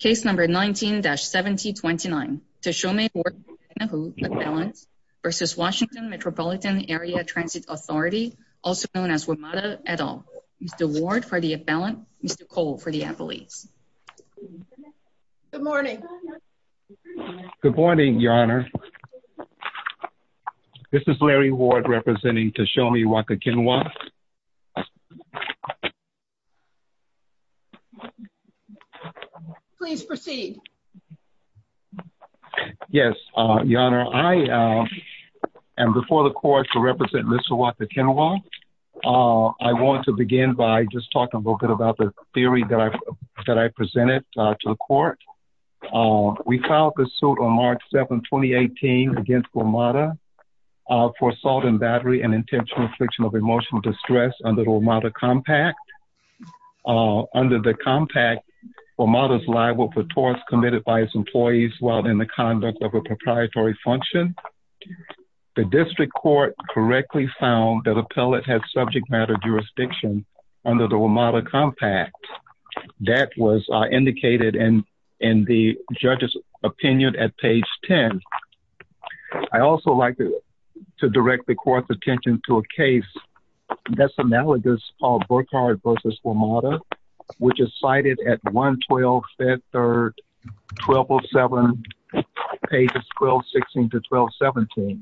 Case number 19-1729, Teshome Workagegnehu Appellant versus Washington Metropolitan Area Transit Authority, also known as WMATA, et al. Mr. Ward for the appellant, Mr. Cole for the appellees. Good morning. Good morning, Your Honor. This is Larry Ward representing Teshome Workagegnehu. Please proceed. Yes, Your Honor. I am before the court to represent Ms. Huata Kenwa. I want to begin by just talking a little bit about the theory that I presented to the court. We filed this suit on March 7, 2018 against WMATA for assault and battery and intentional affliction of emotional distress under the WMATA Compact. Under the Compact, WMATA is liable for torts committed by its employees while in the conduct of a proprietary function. The district court correctly found that appellate has subject matter jurisdiction under the WMATA Compact. That was indicated in the judge's opinion at page 10. I'd also like to direct the court's attention to a case that's analogous called Burkhardt v. WMATA, which is cited at 112-5-3-1207, pages 12-16-12-17.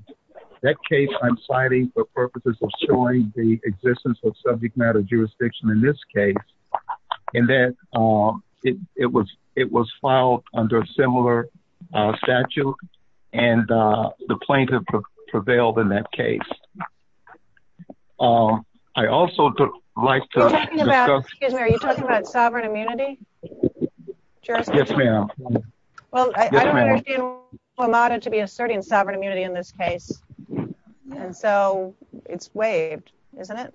That case I'm citing for purposes of showing the existence of subject matter jurisdiction in this case, and that it was filed under a similar statute and the plaintiff prevailed in that case. I also would like to discuss- Excuse me, are you talking about sovereign immunity? Yes, ma'am. Well, I don't understand WMATA to be asserting sovereign immunity in this case. And so it's waived, isn't it?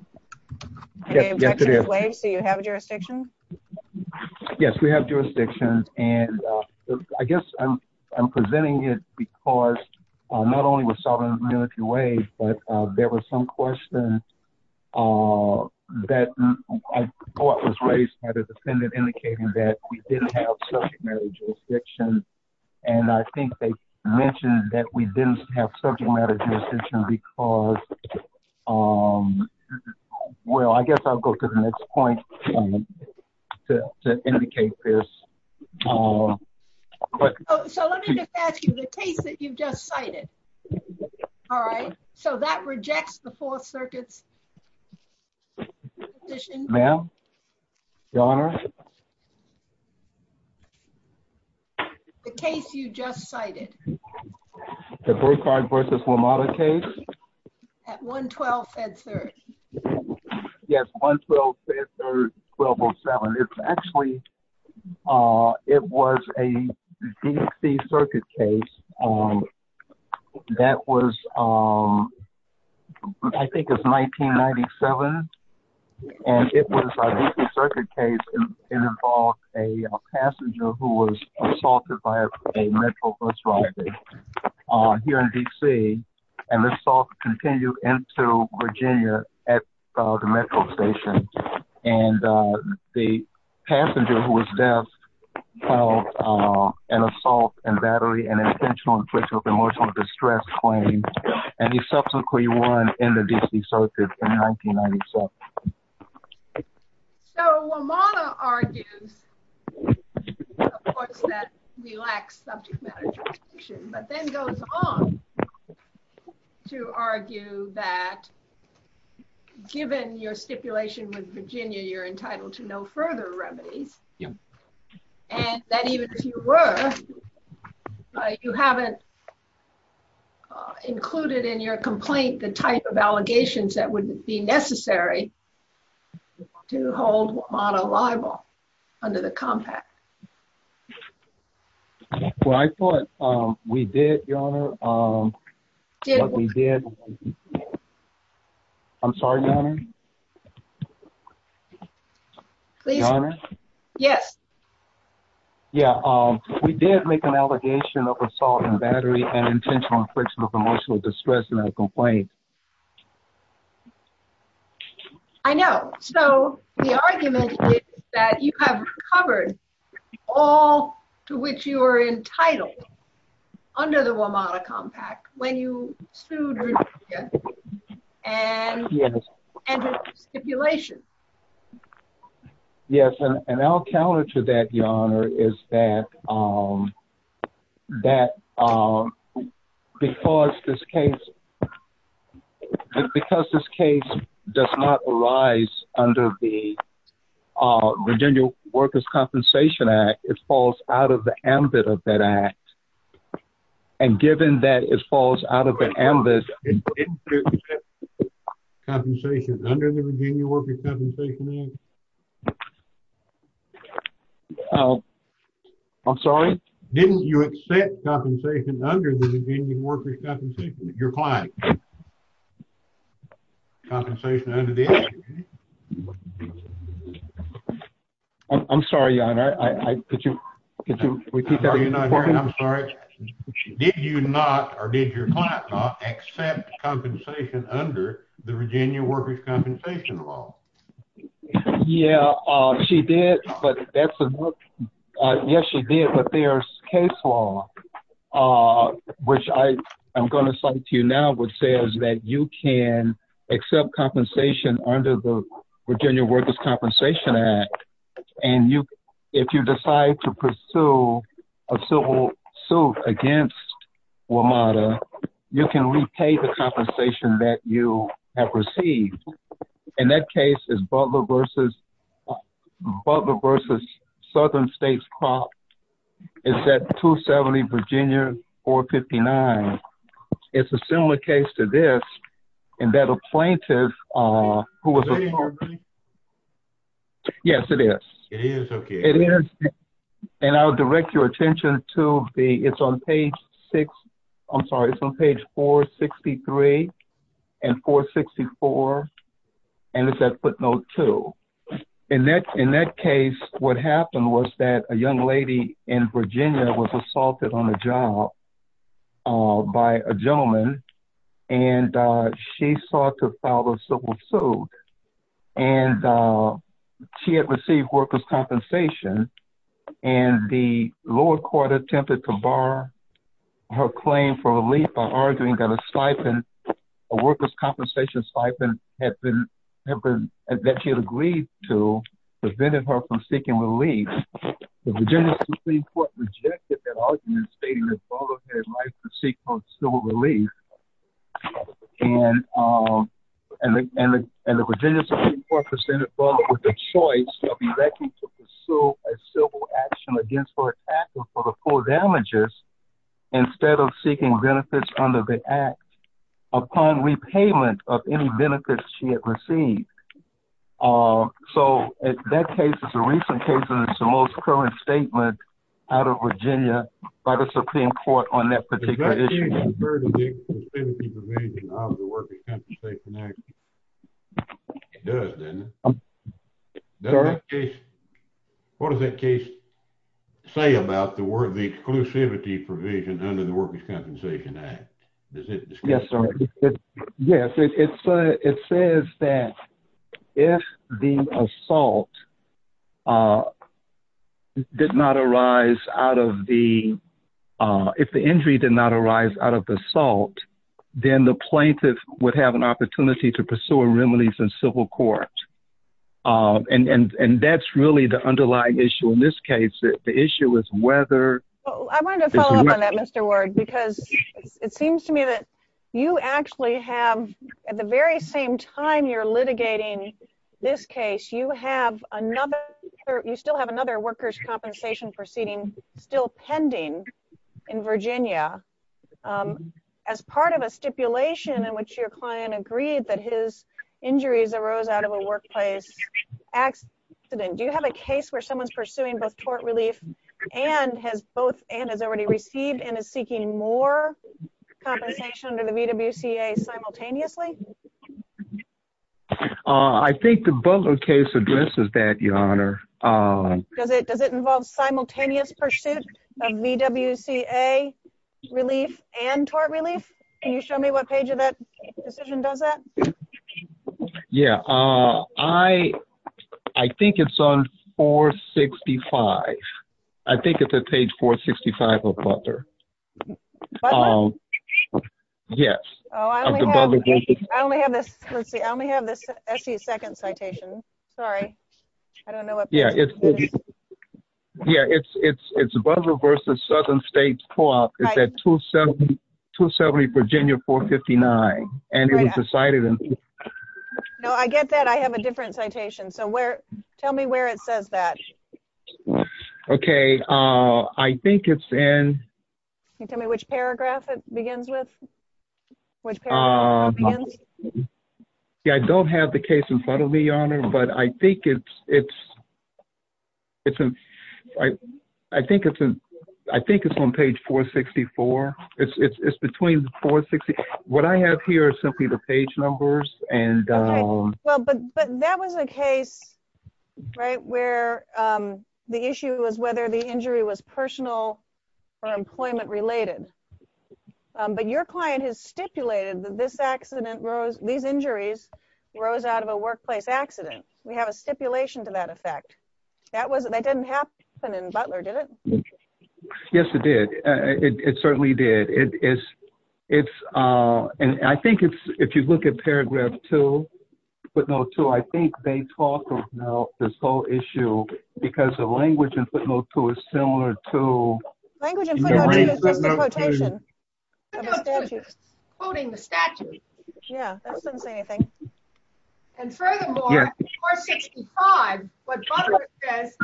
The objection is waived, so you have jurisdiction? Yes, we have jurisdiction, and I guess I'm presenting it because not only was sovereign immunity waived, but there were some questions that I thought was raised by the defendant indicating that we didn't have subject matter jurisdiction. And I think they mentioned that we didn't have subject matter jurisdiction because, well, I guess I'll go to the next point to indicate this. So let me just ask you, the case that you just cited, all right, so that rejects the Fourth Circuit's position? Ma'am, Your Honor? The case you just cited. The Burkhardt v. WMATA case? At 112 Fed Third. Yes, 112 Fed Third, 1207. It's actually, it was a DC circuit case that was, I think it's 1997, and it was a DC circuit case. It involved a passenger who was assaulted by a Metro bus driver here in DC, and the assault continued into Virginia at the Metro station. And the passenger who was deaf felt an assault and battery and intentional infliction of emotional distress claim, and he subsequently won in the DC circuit in 1997. So WMATA argues, of course, that we lack subject matter jurisdiction, but then goes on to argue that given your stipulation with Virginia, you're entitled to no further remedies, and that even if you were, you haven't included in your complaint the type of allegations that would be necessary to hold WMATA liable under the Compact. Well, I thought we did, Your Honor. We did. I'm sorry, Your Honor? Your Honor? Yes. Yeah, we did make an allegation of assault and battery and intentional infliction of emotional distress in our complaint. I know. So the argument is that you have covered all to which you are entitled under the WMATA Compact when you sued Virginia, and your stipulation. Yes, and I'll counter to that, Your Honor, is that because this case does not arise under the Virginia Workers' Compensation Act, it falls out of the ambit of that act, and given that it falls out of the ambit, didn't you accept compensation under the Virginia Workers' Compensation Act? I'm sorry? Didn't you accept compensation under the Virginia Workers' Compensation, your client? Compensation under the act, you mean? I'm sorry, Your Honor. Could you repeat that one more time? I'm sorry. Did you not, or did your client not, accept compensation under the Virginia Workers' Compensation law? Yeah, she did, but that's a no. Yes, she did, but there's case law, which I'm gonna cite to you now, which says that you can accept compensation under the Virginia Workers' Compensation Act, and if you decide to pursue a civil suit against WMATA, you can repay the compensation that you have received, and that case is Butler v. Southern States Crop. It's at 270 Virginia 459. It's a similar case to this, in that a plaintiff, who was a- Is that in your brain? Yes, it is. It is, okay. It is, and I'll direct your attention to the, it's on page six, I'm sorry, it's on page 463 and 464, and it's at footnote two. In that case, what happened was that a young lady in Virginia was assaulted on a job by a gentleman, and she sought to file a civil suit, and she had received workers' compensation, and the lower court attempted to bar her claim for relief by arguing that a stipend, a workers' compensation stipend, had been, that she had agreed to, prevented her from seeking relief. The Virginia Supreme Court rejected that argument, stating that Butler had rights to seek post-civil relief, and the Virginia Supreme Court presented Butler with the choice of electing to pursue a civil action against her attacker for the full damages, instead of seeking benefits under the act upon repayment of any benefits she had received. So, that case is a recent case, and it's the most current statement out of Virginia by the Supreme Court on that particular issue. Does that case refer to the exclusivity provision under the Workers' Compensation Act? It does, doesn't it? Does that case, what does that case say about the exclusivity provision under the Workers' Compensation Act? Does it disclose? Yes, sir. Yes, it says that if the assault did not arise out of the, if the injury did not arise out of the assault, then the plaintiff would have an opportunity to pursue a remedy from civil court. And that's really the underlying issue in this case, that the issue is whether- I wanted to follow up on that, Mr. Ward, because it seems to me that you actually have, at the very same time you're litigating this case, you have another, you still have another workers' compensation proceeding still pending in Virginia as part of a stipulation in which your client agreed that his injuries arose out of a workplace accident. Do you have a case where someone's pursuing both tort relief and has already received and is seeking more compensation under the VWCA simultaneously? I think the Butler case addresses that, Your Honor. Does it involve simultaneous pursuit of VWCA relief and tort relief? Can you show me what page of that decision does that? Yeah, I think it's on 465. I think it's at page 465 of Butler. Yes. Oh, I only have this, let's see, I only have this SC second citation, sorry. I don't know what page it is. Yeah, it's Butler versus Southern States Co-op. It's at 270 Virginia 459. And it was decided in. No, I get that. I have a different citation. So tell me where it says that. Okay, I think it's in. Can you tell me which paragraph it begins with? Yeah, I don't have the case in front of me, Your Honor, but I think it's on page 464. It's between 460. What I have here is simply the page numbers and. Well, but that was a case, right, where the issue was whether the injury was personal or employment related. But your client has stipulated that this accident rose, these injuries rose out of a workplace accident. We have a stipulation to that effect. That wasn't, that didn't happen in Butler, did it? Yes, it did. It certainly did. It is, it's, and I think it's, if you look at paragraph two, footnote two, I think they talk about this whole issue because the language in footnote two is similar to. Language in footnote two is just a quotation. Footnote two is just quoting the statute. Yeah, that doesn't say anything. And furthermore, in paragraph 465, what Butler says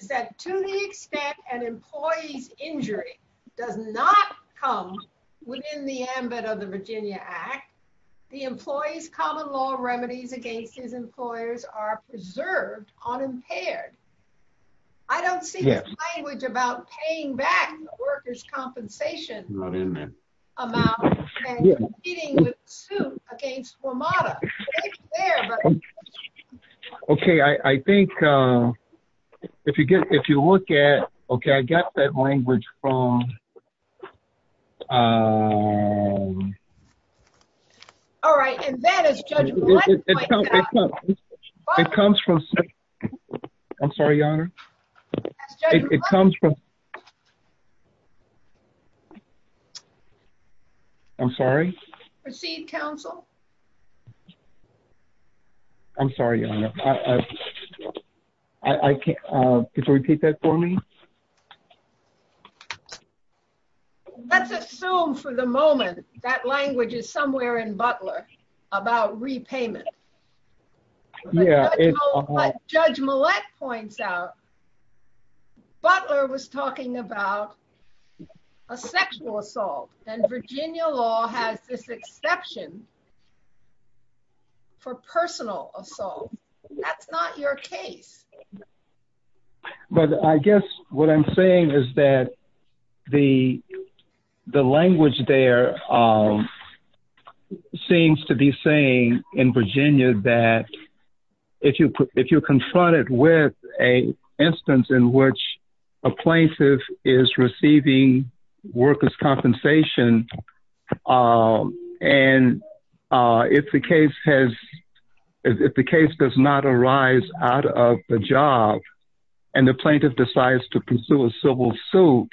is that to the extent an employee's injury does not come within the ambit of the Virginia Act, the employee's common law remedies against his employers are preserved unimpaired. I don't see the language about paying back the worker's compensation amount and competing with suit against WMATA. It's there, but. Okay, I think if you look at, okay, I got that language from. All right, and then as Judge Black pointed out. It comes from, I'm sorry, Your Honor. It comes from. I'm sorry? Proceed, counsel. I'm sorry, Your Honor. I can't, could you repeat that for me? Let's assume for the moment that language is somewhere in Butler about repayment. Yeah, it's. Judge Millett points out Butler was talking about a sexual assault. And Virginia law has this exception for personal assault. That's not your case. But I guess what I'm saying is that the language there seems to be saying in Virginia that if you're confronted with a instance in which a plaintiff is receiving worker's compensation, and if the case has, if the case does not arise out of the job and the plaintiff decides to pursue a civil suit,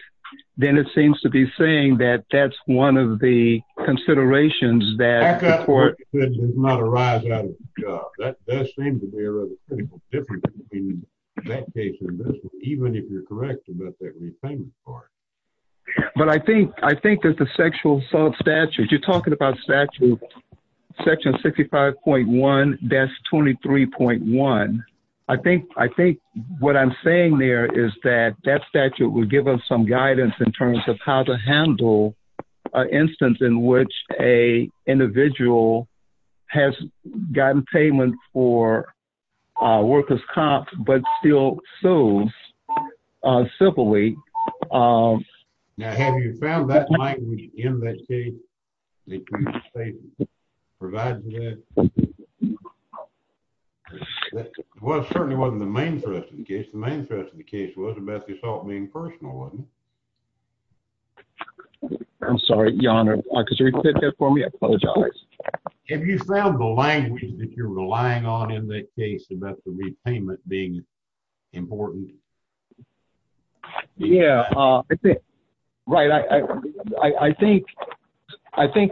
then it seems to be saying that that's one of the considerations that the court. That does not arise out of the job. That seems to be a pretty big difference in that case, even if you're correct about that repayment part. But I think that the sexual assault statute, you're talking about statute section 65.1-23.1. I think what I'm saying there is that that statute would give us some guidance in terms of how to handle an instance in which a individual has gotten payment for a worker's comp, but still sues civilly. Now, have you found that language in that case that you say provides that? Well, it certainly wasn't the main threat to the case. The main threat to the case was about the assault being personal, wasn't it? I'm sorry, Your Honor, could you repeat that for me? I apologize. Have you found the language that you're relying on in that case about the repayment being important? Yeah, I think, right, I think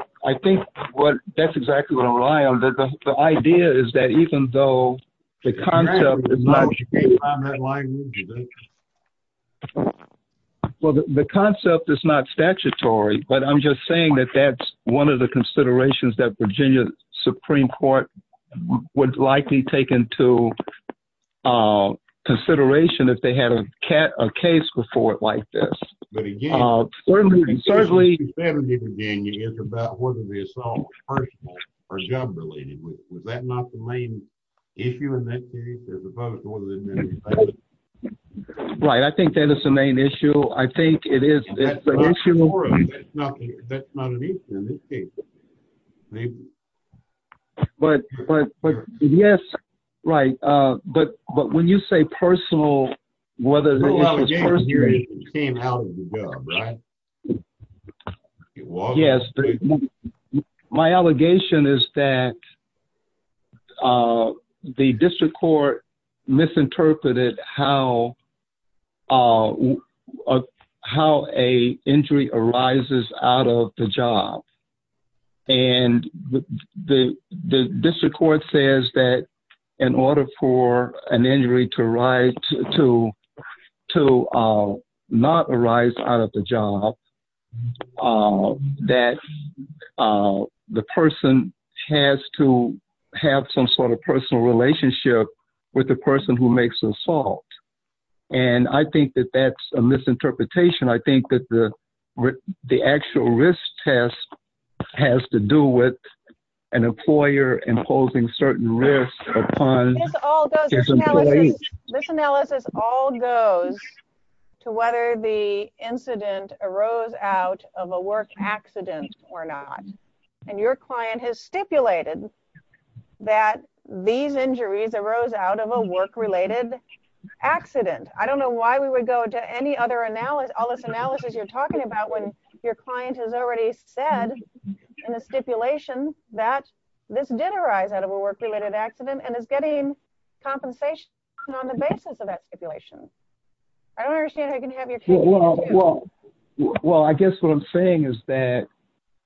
what, that's exactly what I'm relying on. The idea is that even though the concept is not- You can't find that language, is that it? Well, the concept is not statutory, but I'm just saying that that's one of the considerations that Virginia Supreme Court would likely take into consideration if they had a case before it like this. But again, certainly- Certainly, certainly Virginia is about whether the assault was personal or job-related. Was that not the main issue in that case as opposed to what was in the other case? Right, I think that is the main issue. I think it is, it's an issue- That's not an issue in this case. But yes, right, but when you say personal, whether it was personal- No allegation here, it came out of the job, right? Yes, my allegation is that the district court misinterpreted how a injury arises out of the job, and the district court says that in order for an injury to not arise out of the job, that the person has to have some sort of personal relationship with the person who makes the assault and I think that that's a misinterpretation. I think that the actual risk test has to do with an employer imposing certain risks upon his employees. This analysis all goes to whether the incident arose out of a work accident or not. And your client has stipulated that these injuries arose out of a work-related accident. I don't know why we would go to any other analysis, all this analysis you're talking about when your client has already said in the stipulation that this did arise out of a work-related accident and is getting compensation on the basis of that stipulation. I don't understand how you can have your case- Well, I guess what I'm saying is that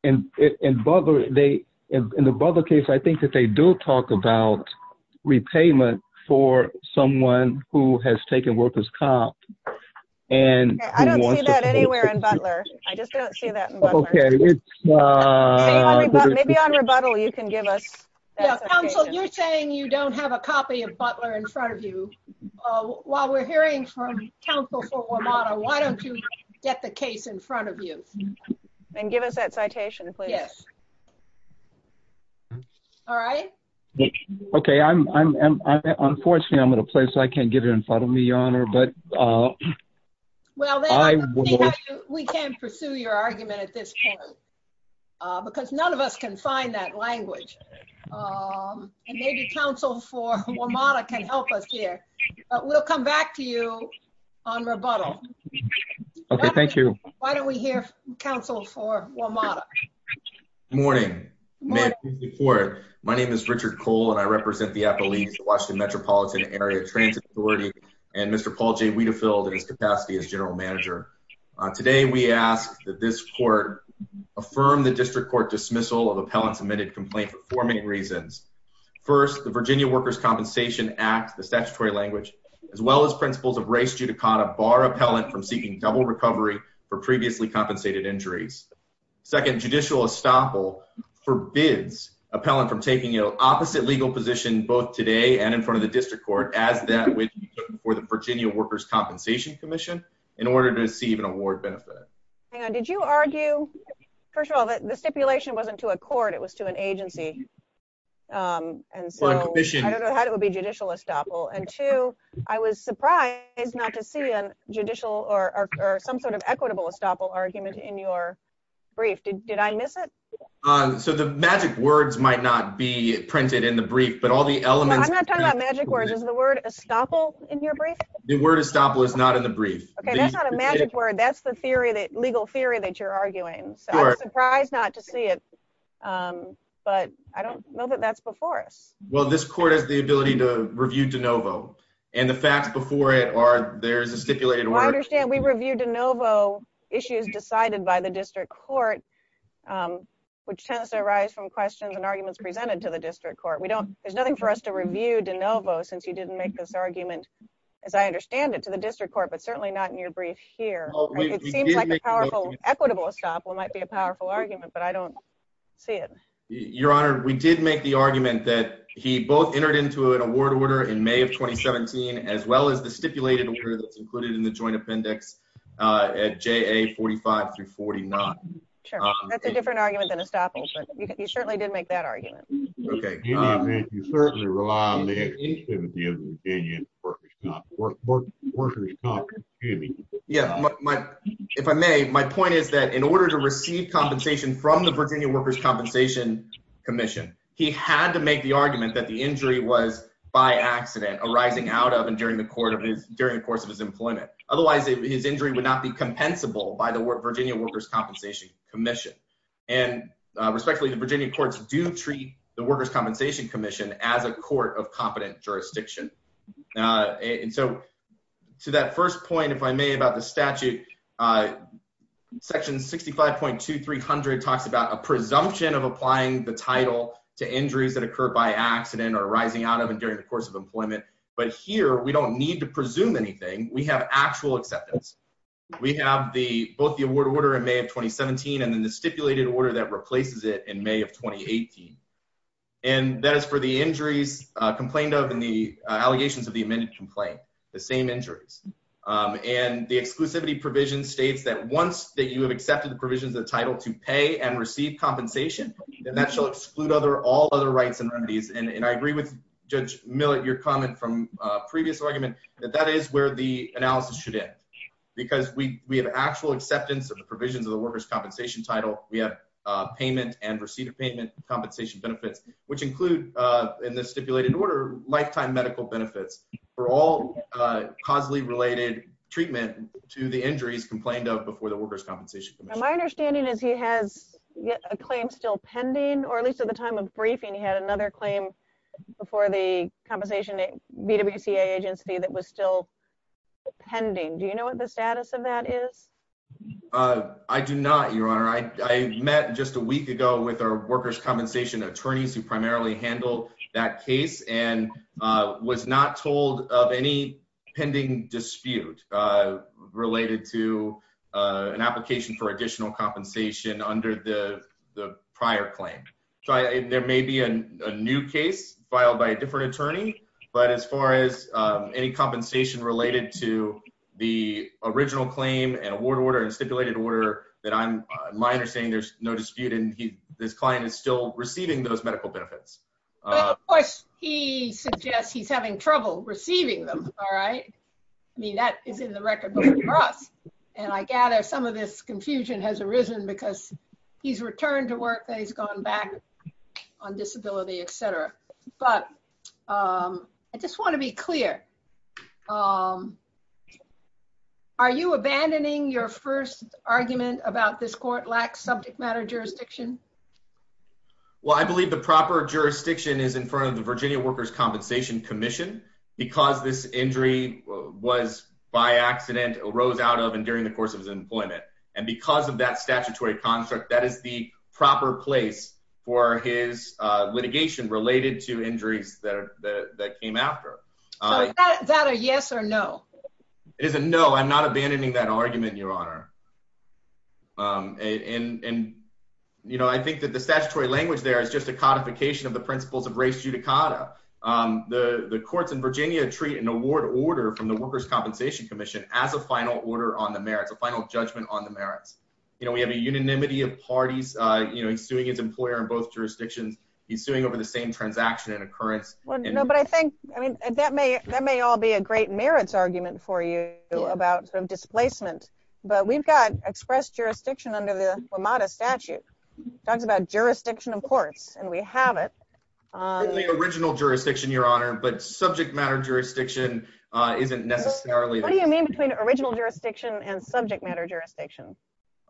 in the Butler case, I think that they do talk about repayment for someone who has taken work as comp and- I don't see that anywhere in Butler. I just don't see that in Butler. Maybe on rebuttal, you can give us that citation. Counsel, you're saying you don't have a copy of Butler in front of you. While we're hearing from counsel for WMATA, why don't you get the case in front of you? And give us that citation, please. Yes. All right. Okay, unfortunately, I'm at a place I can't give it in front of me, Your Honor, but I will- Well, then we can't pursue your argument at this point because none of us can find that language. And maybe counsel for WMATA can help us here. We'll come back to you on rebuttal. Okay, thank you. Why don't we hear counsel for WMATA? Morning. Morning. My name is Richard Cole and I represent the Appalachian Washington Metropolitan Area Transit Authority and Mr. Paul J. Weidefeld in his capacity as general manager. Today, we ask that this court affirm the district court dismissal of appellant's admitted complaint for four main reasons. First, the Virginia Workers' Compensation Act, the statutory language, as well as principles of res judicata bar appellant from seeking double recovery for previously compensated injuries. Second, judicial estoppel forbids appellant from taking an opposite legal position both today and in front of the district court as that would be done for the Virginia Workers' Compensation Commission in order to receive an award benefit. Hang on, did you argue, first of all, that the stipulation wasn't to a court, it was to an agency? And so I don't know how it would be judicial estoppel. And two, I was surprised not to see a judicial or some sort of equitable estoppel argument in your brief. Did I miss it? So the magic words might not be printed in the brief, but all the elements- I'm not talking about magic words. Is the word estoppel in your brief? The word estoppel is not in the brief. Okay, that's not a magic word. That's the legal theory that you're arguing. So I'm surprised not to see it, but I don't know that that's before us. Well, this court has the ability to review de novo. And the facts before it are there's a stipulated order- Well, I understand we review de novo issues decided by the district court, which tends to arise from questions and arguments presented to the district court. There's nothing for us to review de novo since you didn't make this argument, as I understand it, to the district court, but certainly not in your brief here. It seems like the powerful, equitable estoppel might be a powerful argument, but I don't see it. Your Honor, we did make the argument that he both entered into an award order in May of 2017, as well as the stipulated order that's included in the joint appendix at JA 45 through 49. Sure, that's a different argument than estoppel, but you certainly did make that argument. Okay. In any event, you certainly rely on the exclusivity of the Virginia Workers' Compensation Committee. Yeah, if I may, my point is that in order to receive compensation from the Virginia Workers' Compensation Commission, he had to make the argument that the injury was by accident, arising out of and during the course of his employment. Otherwise, his injury would not be compensable by the Virginia Workers' Compensation Commission. And respectfully, the Virginia courts do treat the Workers' Compensation Commission as a court of competent jurisdiction. And so to that first point, if I may, about the statute, section 65.2300 talks about a presumption of applying the title to injuries that occur by accident or arising out of and during the course of employment. But here, we don't need to presume anything. We have actual acceptance. We have both the award order in May of 2017 and then the stipulated order that replaces it in May of 2018. And that is for the injuries complained of and the allegations of the amended complaint, the same injuries. And the exclusivity provision states that once that you have accepted the provisions of the title to pay and receive compensation, then that shall exclude all other rights and remedies. And I agree with Judge Millett, your comment from a previous argument, that that is where the analysis should end because we have actual acceptance of the provisions of the workers' compensation title. We have payment and receipt of payment compensation benefits, which include in the stipulated order, lifetime medical benefits for all causally related treatment to the injuries complained of before the Workers' Compensation Commission. My understanding is he has a claim still pending or at least at the time of briefing, he had another claim before the Compensation BWCA agency that was still pending. Do you know what the status of that is? I do not, your honor. I met just a week ago with our workers' compensation attorneys who primarily handled that case and was not told of any pending dispute related to an application for additional compensation under the prior claim. So there may be a new case filed by a different attorney, but as far as any compensation related to the original claim and award order or stipulated order that I'm minor saying there's no dispute and this client is still receiving those medical benefits. But of course he suggests he's having trouble receiving them, all right? I mean, that is in the record book for us. And I gather some of this confusion has arisen because he's returned to work that he's gone back on disability, et cetera. But I just wanna be clear. Are you abandoning your first argument about this court lacks subject matter jurisdiction? Well, I believe the proper jurisdiction is in front of the Virginia Workers' Compensation Commission because this injury was by accident, arose out of and during the course of his employment. And because of that statutory construct, that is the proper place for his litigation related to injuries that came after. Is that a yes or no? It is a no, I'm not abandoning that argument, Your Honor. And I think that the statutory language there is just a codification of the principles of race judicata. The courts in Virginia treat an award order from the Workers' Compensation Commission as a final order on the merits, a final judgment on the merits. We have a unanimity of parties, he's suing his employer in both jurisdictions, he's suing over the same transaction and occurrence. Well, no, but I think, I mean, that may all be a great merits argument for you about sort of displacement, but we've got expressed jurisdiction under the WMATA statute. Talks about jurisdiction of courts, and we have it. The original jurisdiction, Your Honor, but subject matter jurisdiction isn't necessarily- What do you mean between original jurisdiction and subject matter jurisdiction?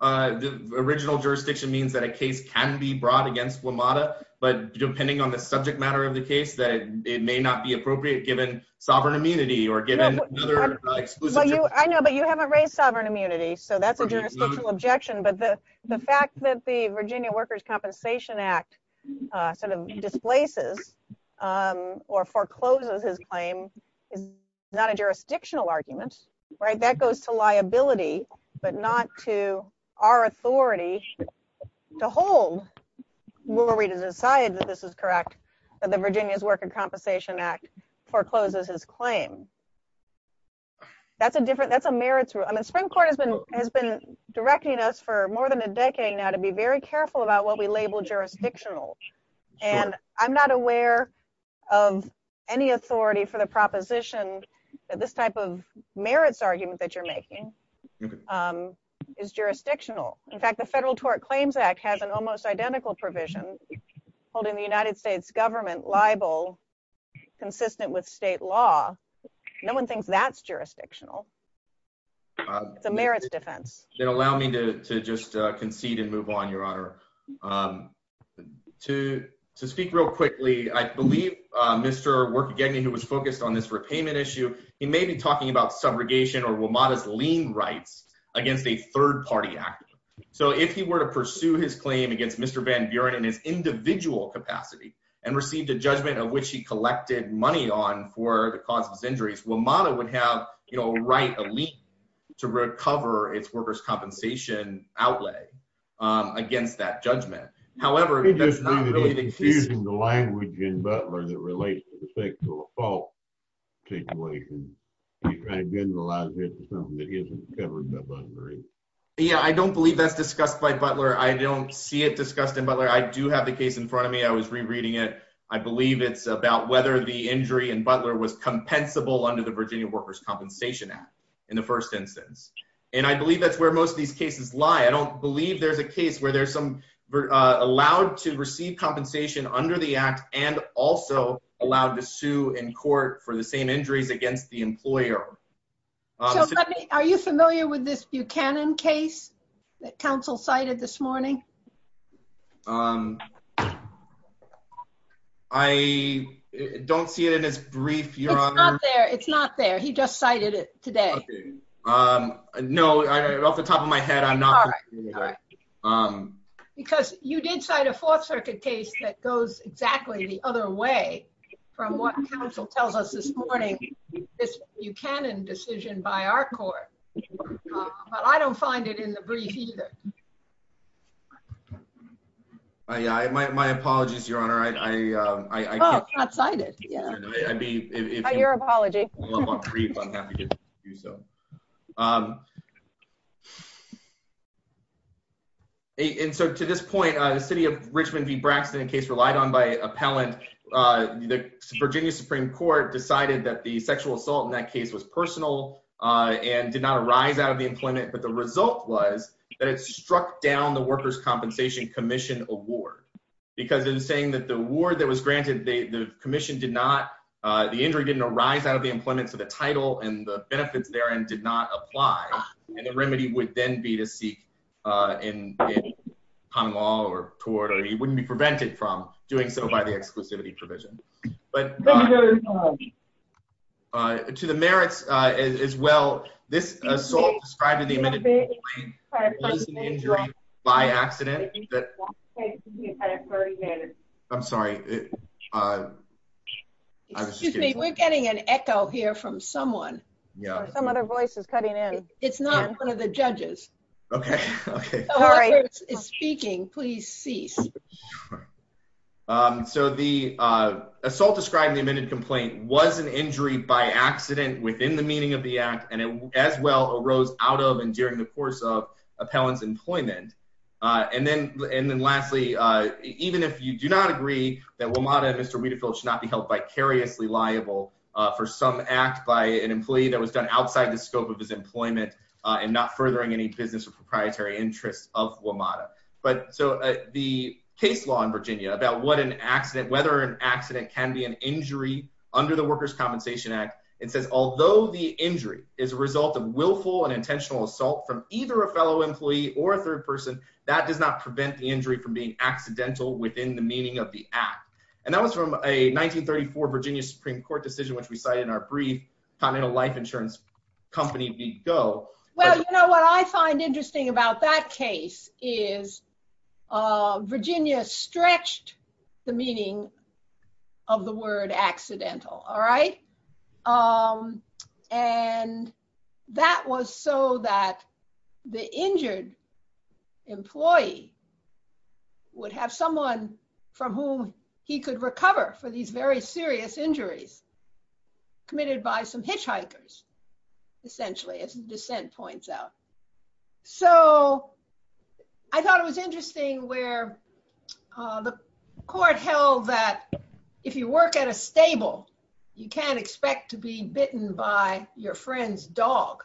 Original jurisdiction means that a case can be brought against WMATA, but depending on the subject matter of the case, it may not be appropriate given sovereign immunity or given other exclusive- I know, but you haven't raised sovereign immunity, so that's a jurisdictional objection, but the fact that the Virginia Workers' Compensation Act sort of displaces or forecloses his claim is not a jurisdictional argument, right? That goes to liability, but not to our authority to hold. Will we decide that this is correct, that the Virginia's Workers' Compensation Act forecloses his claim? That's a different, that's a merits- I mean, Supreme Court has been directing us for more than a decade now to be very careful about what we label jurisdictional, and I'm not aware of any authority for the proposition that this type of merits argument that you're making is jurisdictional. In fact, the Federal Tort Claims Act has an almost identical provision holding the United States government liable, consistent with state law. No one thinks that's jurisdictional. It's a merits defense. Then allow me to just concede and move on, Your Honor. To speak real quickly, I believe Mr. Workgegne, who was focused on this repayment issue, he may be talking about subrogation or WMATA's lien rights against a third-party actor. So if he were to pursue his claim against Mr. Van Buren in his individual capacity, and received a judgment of which he collected money on for the cause of his injuries, WMATA would have a right, a lien, to recover its workers' compensation outlay against that judgment. However, that's not really the case- You're just using the language in Butler that relates to the sexual assault situation. You're trying to generalize it to something that isn't covered by Butler. Yeah, I don't believe that's discussed by Butler. I don't see it discussed in Butler. I do have the case in front of me. I was rereading it. I believe it's about whether the injury in Butler was compensable under the Virginia Workers' Compensation Act in the first instance. And I believe that's where most of these cases lie. I don't believe there's a case where there's some, allowed to receive compensation under the act and also allowed to sue in court for the same injuries against the employer. Are you familiar with this Buchanan case that counsel cited this morning? I don't see it in his brief, Your Honor. It's not there. It's not there. He just cited it today. Okay. No, off the top of my head, I'm not- All right, all right. Because you did cite a Fourth Circuit case that goes exactly the other way from what counsel tells us this morning, this Buchanan decision by our court. But I don't find it in the brief either. My apologies, Your Honor. I can't- Oh, it's not cited. Yeah. I mean, if- Your apology. Well, I'm on brief. I'm happy to do so. And so to this point, the city of Richmond v. Braxton, a case relied on by appellant, the Virginia Supreme Court decided and did not arise out of the employment. But the result was that it's just struck down the Workers' Compensation Commission award. Because in saying that the award that was granted, the commission did not, the injury didn't arise out of the employment, so the title and the benefits therein did not apply. And the remedy would then be to seek in common law or court, or he wouldn't be prevented from doing so by the exclusivity provision. But to the merits as well, this assault described in the amended- It was an injury by accident. I'm sorry. I was just kidding. Excuse me, we're getting an echo here from someone. Yeah. Or some other voice is cutting in. It's not one of the judges. Okay, okay. Sorry. It's speaking, please cease. So the assault described in the amended complaint was an injury by accident within the meaning of the act, and it as well arose out of and during the course of Appellant's employment. And then lastly, even if you do not agree that WMATA and Mr. Wietefeld should not be held vicariously liable for some act by an employee that was done outside the scope of his employment and not furthering any business or proprietary interests of WMATA. But so the case law in Virginia about what an accident, whether an accident can be an injury under the Workers' Compensation Act, it says, although the injury is a result of willful and intentional assault from either a fellow employee or a third person, that does not prevent the injury from being accidental within the meaning of the act. And that was from a 1934 Virginia Supreme Court decision, which we cited in our brief, Continental Life Insurance Company v. Go. Well, you know what I find interesting about that case is Virginia stretched the meaning of the word accidental. All right? And that was so that the injured employee would have someone from whom he could recover for these very serious injuries committed by some hitchhikers, essentially, as the dissent points out. So I thought it was interesting where the court held that if you work at a stable, you can't expect to be bitten by your friend's dog.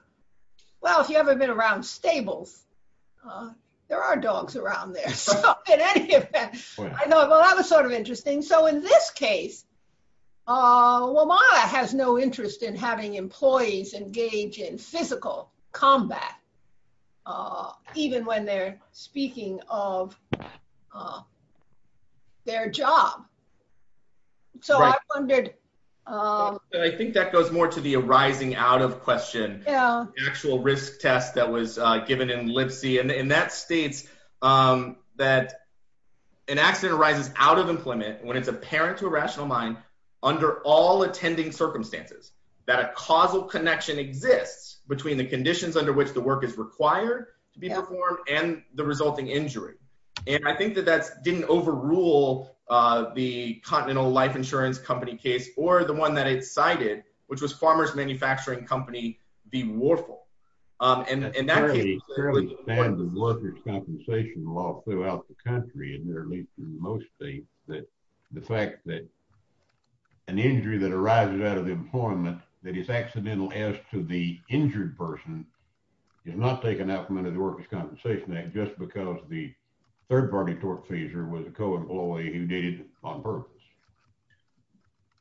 Well, if you ever been around stables, there are dogs around there. So in any event, I thought, well, that was sort of interesting. So in this case, WMATA has no interest in having employees engage in physical combat, even when they're speaking of their job. So I wondered. I think that goes more to the arising out of question, actual risk test that was given in Lipsey. And that states that an accident arises out of employment when it's apparent to a rational mind under all attending circumstances, that a causal connection exists between the conditions under which the work is required to be performed and the resulting injury. And I think that that didn't overrule the Continental Life Insurance Company case or the one that it cited, which was Farmer's Manufacturing Company v. Warfel. And in that case- It's fairly standard workers' compensation law throughout the country, isn't it? Or at least in most states. The fact that an injury that arises out of employment that is accidental as to the injured person is not taken out from under the Workers' Compensation Act just because the third party tort pleaser was a co-employee who did it on purpose.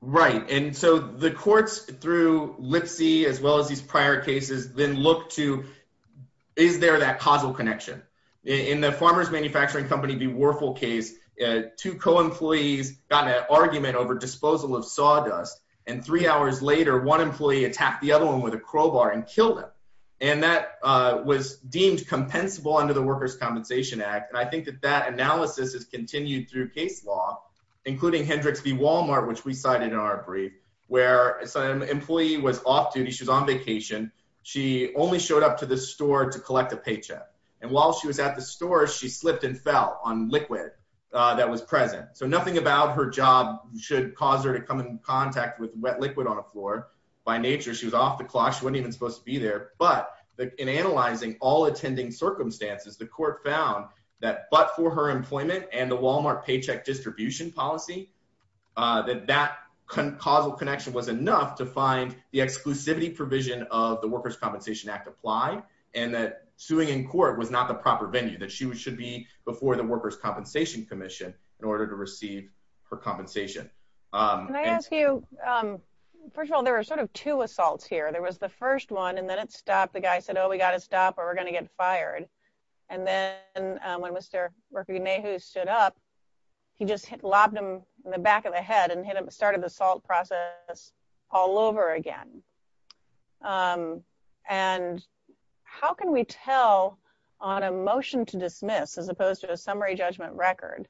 Right. And so the courts through Lipsey, as well as these prior cases, then look to, is there that causal connection? In the Farmer's Manufacturing Company v. Warfel case, two co-employees got an argument over disposal of sawdust. And three hours later, one employee attacked the other one with a crowbar and killed him. And that was deemed compensable under the Workers' Compensation Act. And I think that that analysis has continued through case law, including Hendricks v. Walmart, which we cited in our brief, where some employee was off duty. She was on vacation. She only showed up to the store to collect a paycheck. And while she was at the store, she slipped and fell on liquid that was present. So nothing about her job should cause her to come in contact with wet liquid on a floor. By nature, she was off the clock. She wasn't even supposed to be there. But in analyzing all attending circumstances, the court found that, but for her employment and the Walmart paycheck distribution policy, that that causal connection was enough to find the exclusivity provision of the Workers' Compensation Act apply, and that suing in court was not the proper venue, that she should be before the Workers' Compensation Commission in order to receive her compensation. And- Can I ask you, first of all, there were sort of two assaults here. There was the first one, and then it stopped. The guy said, oh, we got to stop or we're going to get fired. And then when Mr. Rekogenehu stood up, he just lobbed him in the back of the head and started the assault process all over again. And how can we tell on a motion to dismiss as opposed to a summary judgment record,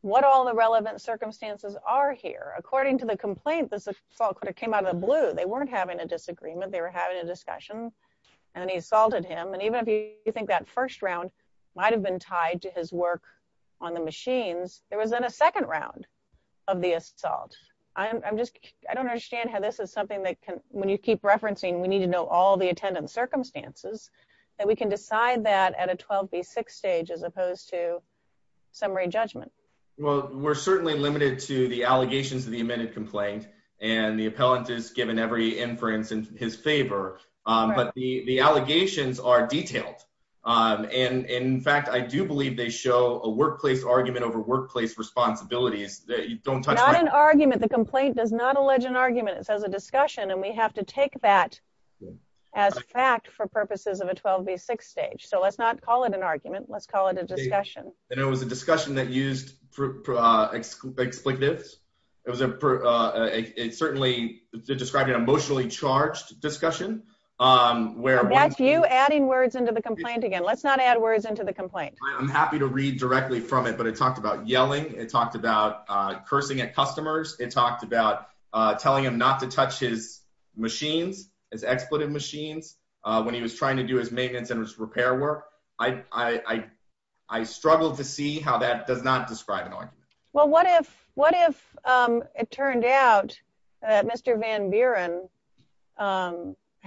what all the relevant circumstances are here? According to the complaint, this assault could have came out of the blue. They weren't having a disagreement. They were having a discussion and he assaulted him. And even if you think that first round might've been tied to his work on the machines, there was then a second round of the assault. I'm just, I don't understand how this is something that can, when you keep referencing, we need to know all the attendant circumstances, that we can decide that at a 12B6 stage as opposed to summary judgment. Well, we're certainly limited to the allegations of the amended complaint and the appellant is given every inference in his favor, but the allegations are detailed. And in fact, I do believe they show a workplace argument over workplace responsibilities. Don't touch my- Not an argument. The complaint does not allege an argument. It says a discussion. And we have to take that as fact for purposes of a 12B6 stage. So let's not call it an argument. Let's call it a discussion. And it was a discussion that used for expletives. It was a, it certainly described an emotionally charged discussion, where- That's you adding words into the complaint again. Let's not add words into the complaint. I'm happy to read directly from it, but it talked about yelling. It talked about cursing at customers. It talked about telling him not to touch his machines, his expletive machines, when he was trying to do his maintenance and his repair work. I struggled to see how that does not describe an argument. Well, what if, what if it turned out that Mr. Van Buren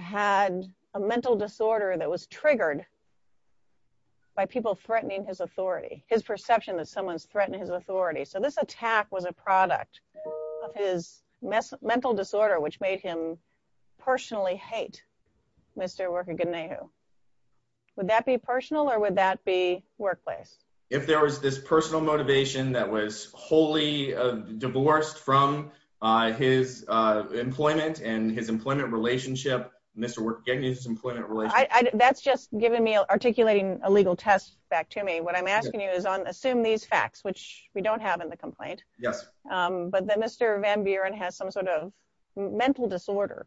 had a mental disorder that was triggered by people threatening his authority, his perception that someone's threatening his authority. So this attack was a product of his mental disorder, which made him personally hate Mr. Worker Ganehu. Would that be personal or would that be workplace? If there was this personal motivation that was wholly divorced from his employment and his employment relationship, Mr. Worker Ganehu's employment relationship. That's just giving me, articulating a legal test back to me. What I'm asking you is assume these facts, which we don't have in the complaint. Yes. But that Mr. Van Buren has some sort of mental disorder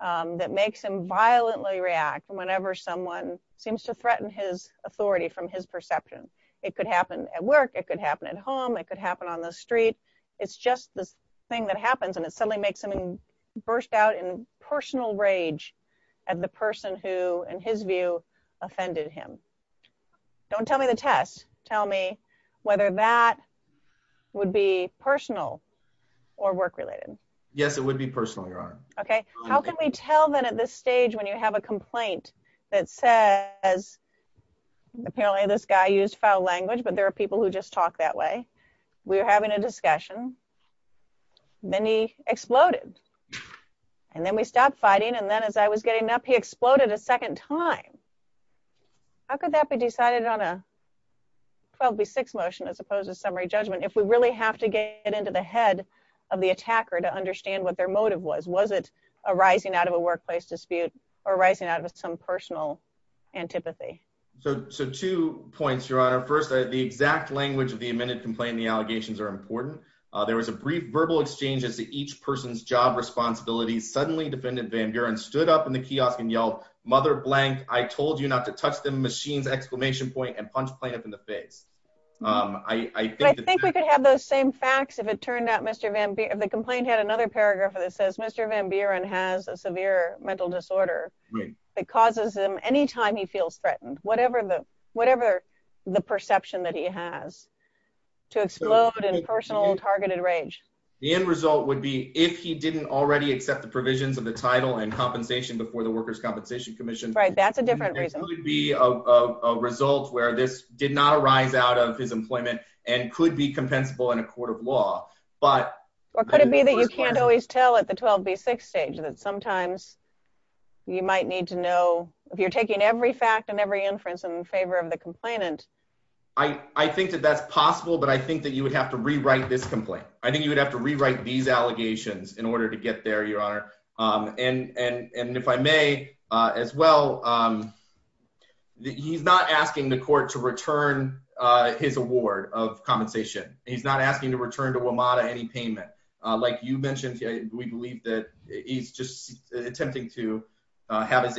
that makes him violently react whenever someone seems to threaten his authority from his perception. It could happen at work. It could happen at home. It could happen on the street. It's just this thing that happens and it suddenly makes him burst out in personal rage at the person who, in his view, offended him. Don't tell me the test. Tell me whether that would be personal or work-related. Yes, it would be personal, Your Honor. Okay. How can we tell then at this stage when you have a complaint that says, apparently this guy used foul language, but there are people who just talk that way. We were having a discussion. Then he exploded. And then we stopped fighting. And then as I was getting up, he exploded a second time. How could that be decided on a 12B6 motion as opposed to summary judgment if we really have to get into the head of the attacker to understand what their motive was? Was it a rising out of a workplace dispute or rising out of some personal antipathy? So two points, Your Honor. The exact language of the amended complaint and the allegations are important. There was a brief verbal exchange as to each person's job responsibilities. Suddenly, Defendant Van Buren stood up in the kiosk and yelled, mother blank, I told you not to touch the machine's exclamation point and punch plaintiff in the face. I think we could have those same facts if it turned out Mr. Van Buren, if the complaint had another paragraph that says Mr. Van Buren has a severe mental disorder that causes him any time he feels threatened, whatever the perception that he has to explode in personal targeted rage. The end result would be if he didn't already accept the provisions of the title and compensation before the Workers' Compensation Commission. Right, that's a different reason. There could be a result where this did not arise out of his employment and could be compensable in a court of law, but- Or could it be that you can't always tell at the 12B6 stage that sometimes you might need to know, if you're taking every fact and every inference in favor of the complainant. I think that that's possible, but I think that you would have to rewrite this complaint. I think you would have to rewrite these allegations in order to get there, Your Honor. And if I may as well, he's not asking the court to return his award of compensation. He's not asking to return to WMATA any payment. Like you mentioned, we believe that he's just attempting to have his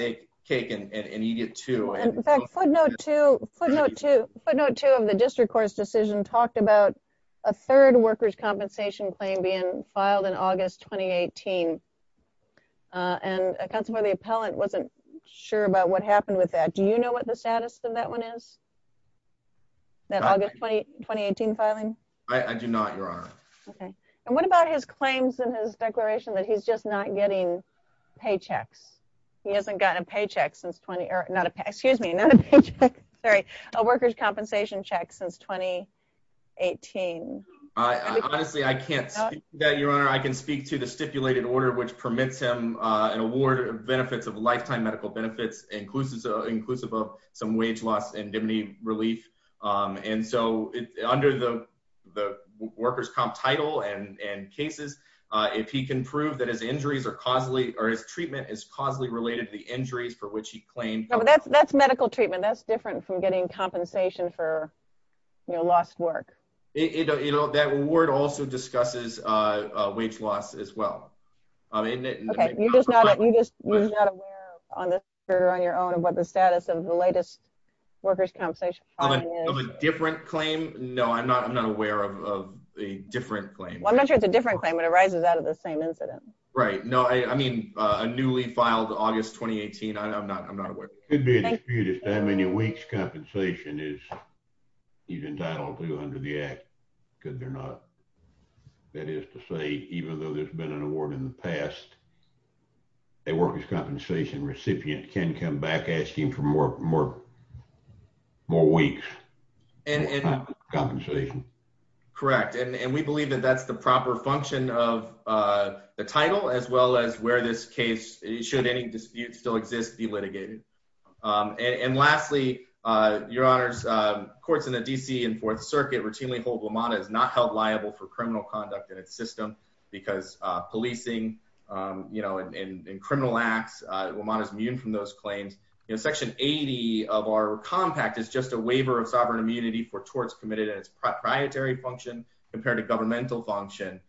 cake and eat it too. And in fact, footnote two of the district court's decision talked about a third workers' compensation claim being filed in August, 2018. And a counselor for the appellant wasn't sure about what happened with that. Do you know what the status of that one is? That August, 2018 filing? I do not, Your Honor. Okay, and what about his claims in his declaration that he's just not getting paychecks? He hasn't gotten a paycheck since 20, or not a paycheck, excuse me, not a paycheck, sorry, a workers' compensation check since 2018. Honestly, I can't speak to that, Your Honor. I can speak to the stipulated order, which permits him an award of benefits, of lifetime medical benefits, inclusive of some wage loss and indemnity relief. And so under the workers' comp title and cases, if he can prove that his injuries are causally, or his treatment is causally related to the injuries for which he claimed- No, but that's medical treatment. That's different from getting compensation for lost work. That award also discusses wage loss as well. Okay, you're just not aware on this, Your Honor, on your own of what the status of the latest workers' compensation filing is? Of a different claim? No, I'm not aware of a different claim. Well, I'm not sure it's a different claim, but it rises out of the same incident. Right, no, I mean, a newly filed August, 2018, I'm not aware of it. It could be a dispute as to how many weeks' compensation is he's entitled to under the act, because they're not. That is to say, even though there's been an award in the past, a workers' compensation recipient can come back asking for more weeks' compensation. Correct, and we believe that that's the proper function of the title, as well as where this case, should any dispute still exist, be litigated. And lastly, Your Honors, courts in the D.C. and Fourth Circuit routinely hold WMATA as not held liable for criminal conduct in its system, because policing and criminal acts, WMATA's immune from those claims. Section 80 of our compact is just a waiver of sovereign immunity for torts committed at its proprietary function compared to governmental function.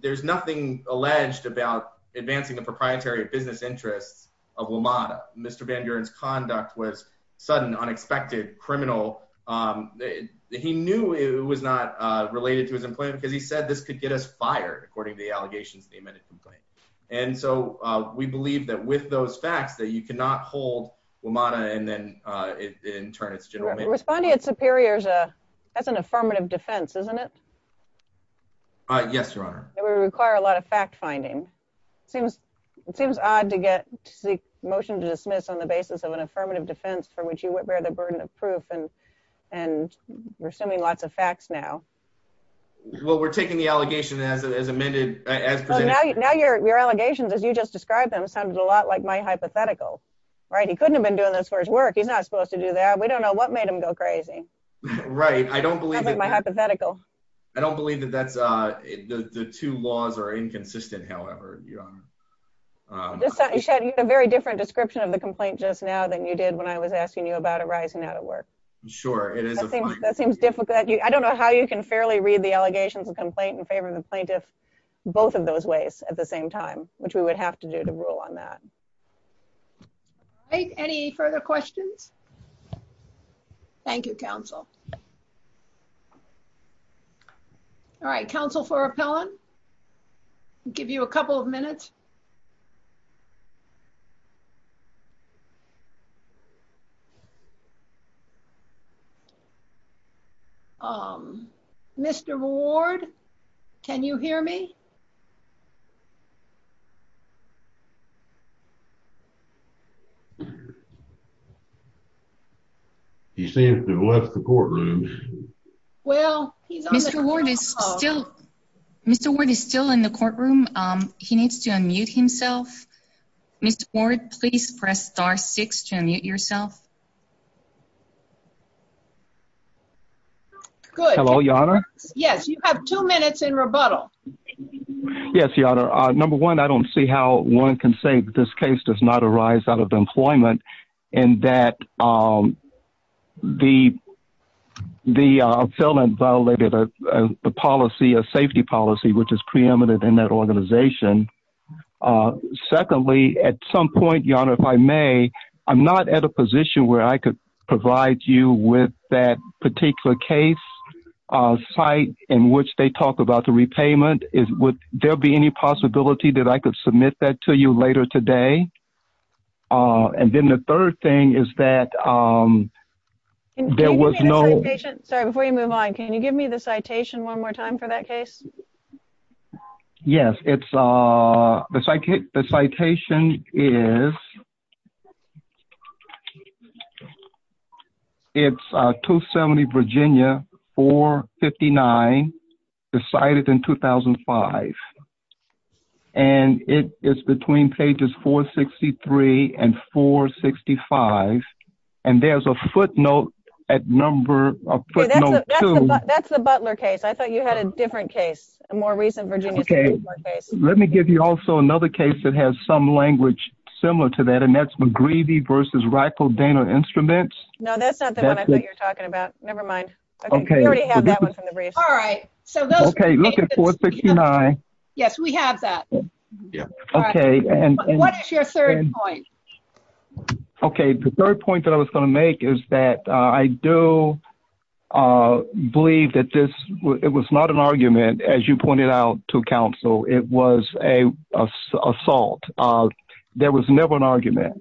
There's nothing alleged about advancing the proprietary business interests of WMATA. Mr. Van Buren's conduct was sudden, unexpected, criminal. He knew it was not related to his employment, because he said, this could get us fired, according to the allegations in the amended complaint. And so we believe that with those facts, that you cannot hold WMATA, and then in turn, its general mandate. Responding at superiors, that's an affirmative defense. Isn't it? Yes, Your Honor. It would require a lot of fact-finding. It seems odd to get a motion to dismiss on the basis of an affirmative defense for which you would bear the burden of proof, and we're assuming lots of facts now. Well, we're taking the allegation as amended. Now your allegations, as you just described them, sounded a lot like my hypothetical, right? He couldn't have been doing this for his work. He's not supposed to do that. We don't know what made him go crazy. Right, I don't believe that- That's like my hypothetical. I don't believe that that's, the two laws are inconsistent, however, Your Honor. You had a very different description of the complaint just now than you did when I was asking you about it rising out of work. Sure, it is a fine- That seems difficult. I don't know how you can fairly read the allegations of complaint in favor of the plaintiff, both of those ways at the same time, which we would have to do to rule on that. All right, any further questions? Thank you, counsel. All right, counsel for appellant, give you a couple of minutes. Mr. Ward, can you hear me? He seems to have left the courtroom. Well, he's on the phone call. Mr. Ward is still in the courtroom. He needs to unmute himself. Mr. Ward, please press star six to unmute yourself. Good. Hello, Your Honor. Yes, you have two minutes in rebuttal. Yes, Your Honor. Number one, I don't see how one can say this case does not arise out of employment and that the felon violated a policy, a safety policy, which is preeminent in that organization. Secondly, at some point, Your Honor, if I may, I'm not at a position where I could provide you with that particular case site in which they talk about the repayment. There'll be any possibility that I could submit that to you later today? And then the third thing is that there was no- Can you give me the citation? Sorry, before you move on, can you give me the citation one more time for that case? Yes, the citation is, it's 270 Virginia 459 decided in 2005. And it is between pages 463 and 465. And there's a footnote at number, a footnote two. That's the Butler case. I thought you had a different case, a more recent Virginia case. Let me give you also another case that has some language similar to that. And that's McGreevey versus Ricodano Instruments. No, that's not the one I thought you were talking about. Nevermind. Okay, we already have that one from the briefs. All right. So those- Okay, look at 469. Yes, we have that. Okay, and- What's your third point? Okay, the third point that I was gonna make is that I do believe that this, it was not an argument as you pointed out to counsel. It was a assault. There was never an argument.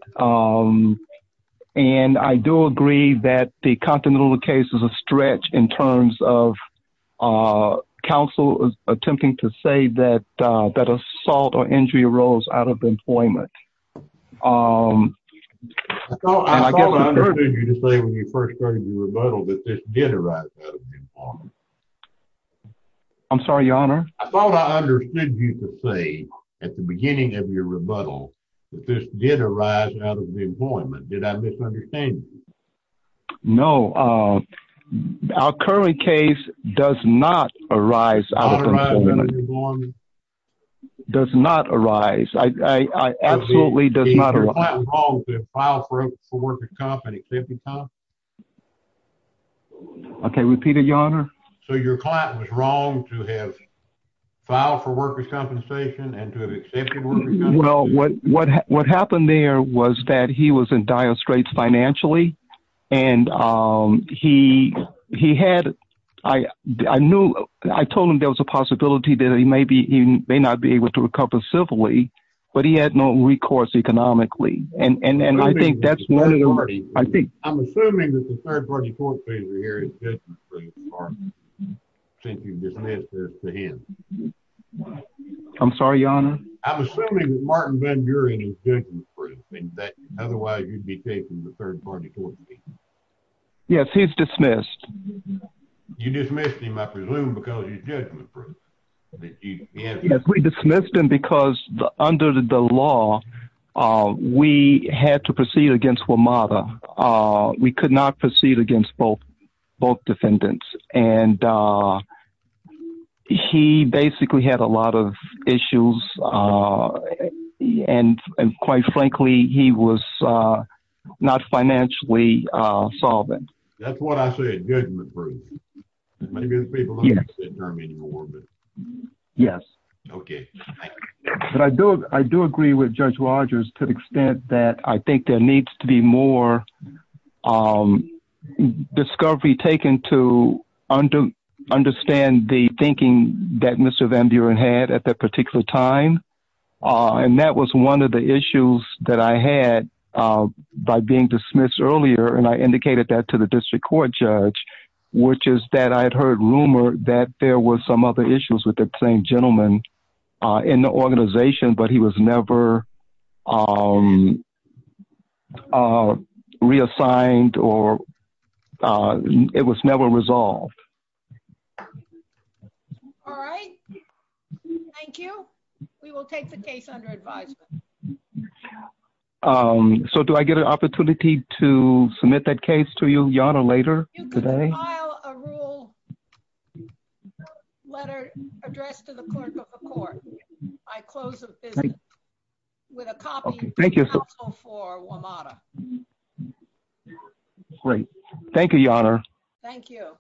And I do agree that the Continental case is a stretch in terms of counsel attempting to say that assault or injury arose out of employment. And I guess I understand- I thought I understood you to say when you first started your rebuttal that this did arise out of employment. I'm sorry, your honor? I thought I understood you to say at the beginning of your rebuttal that this did arise out of employment. Did I misunderstand you? No, our current case does not arise out of employment. Does not arise. It absolutely does not arise. Is your client wrong to have filed for worker's compensation and accepted worker's compensation? Okay, repeat it, your honor. So your client was wrong to have filed for worker's compensation and to have accepted worker's- Well, what happened there was that he was in dire straits financially. And he had, I knew, I told him there was a possibility that he may not be able to recover civilly, but he had no recourse economically. And I think that's one of the reasons. I'm assuming that the third party court here is judgment-proof, Mark, since you dismissed this to him. I'm sorry, your honor? I'm assuming that Martin Van Buren is judgment-proof. Otherwise, you'd be taking the third party court to me. Yes, he's dismissed. You dismissed him, I presume, because he's judgment-proof. Yes, we dismissed him because under the law, we had to proceed against WMATA. We could not proceed against both defendants. And he basically had a lot of issues. And quite frankly, he was not financially solvent. That's what I said, judgment-proof. And maybe there's people who- Yes. Who can't hear me anymore, but- Yes. Okay. But I do agree with Judge Rogers to the extent that I think there needs to be more discovery taken to understand the thinking that Mr. Van Buren had at that particular time. And that was one of the issues that I had by being dismissed earlier. And I indicated that to the district court judge, which is that I had heard rumor that there was some other issues with that same gentleman in the organization, but he was never reassigned or it was never resolved. All right. Thank you. We will take the case under advisement. So do I get an opportunity to submit that case to you, Yonah, later today? You can file a rule letter addressed to the clerk of the court. I close the visit with a copy of the counsel for WMATA. Great. Thank you, Yonah. Thank you.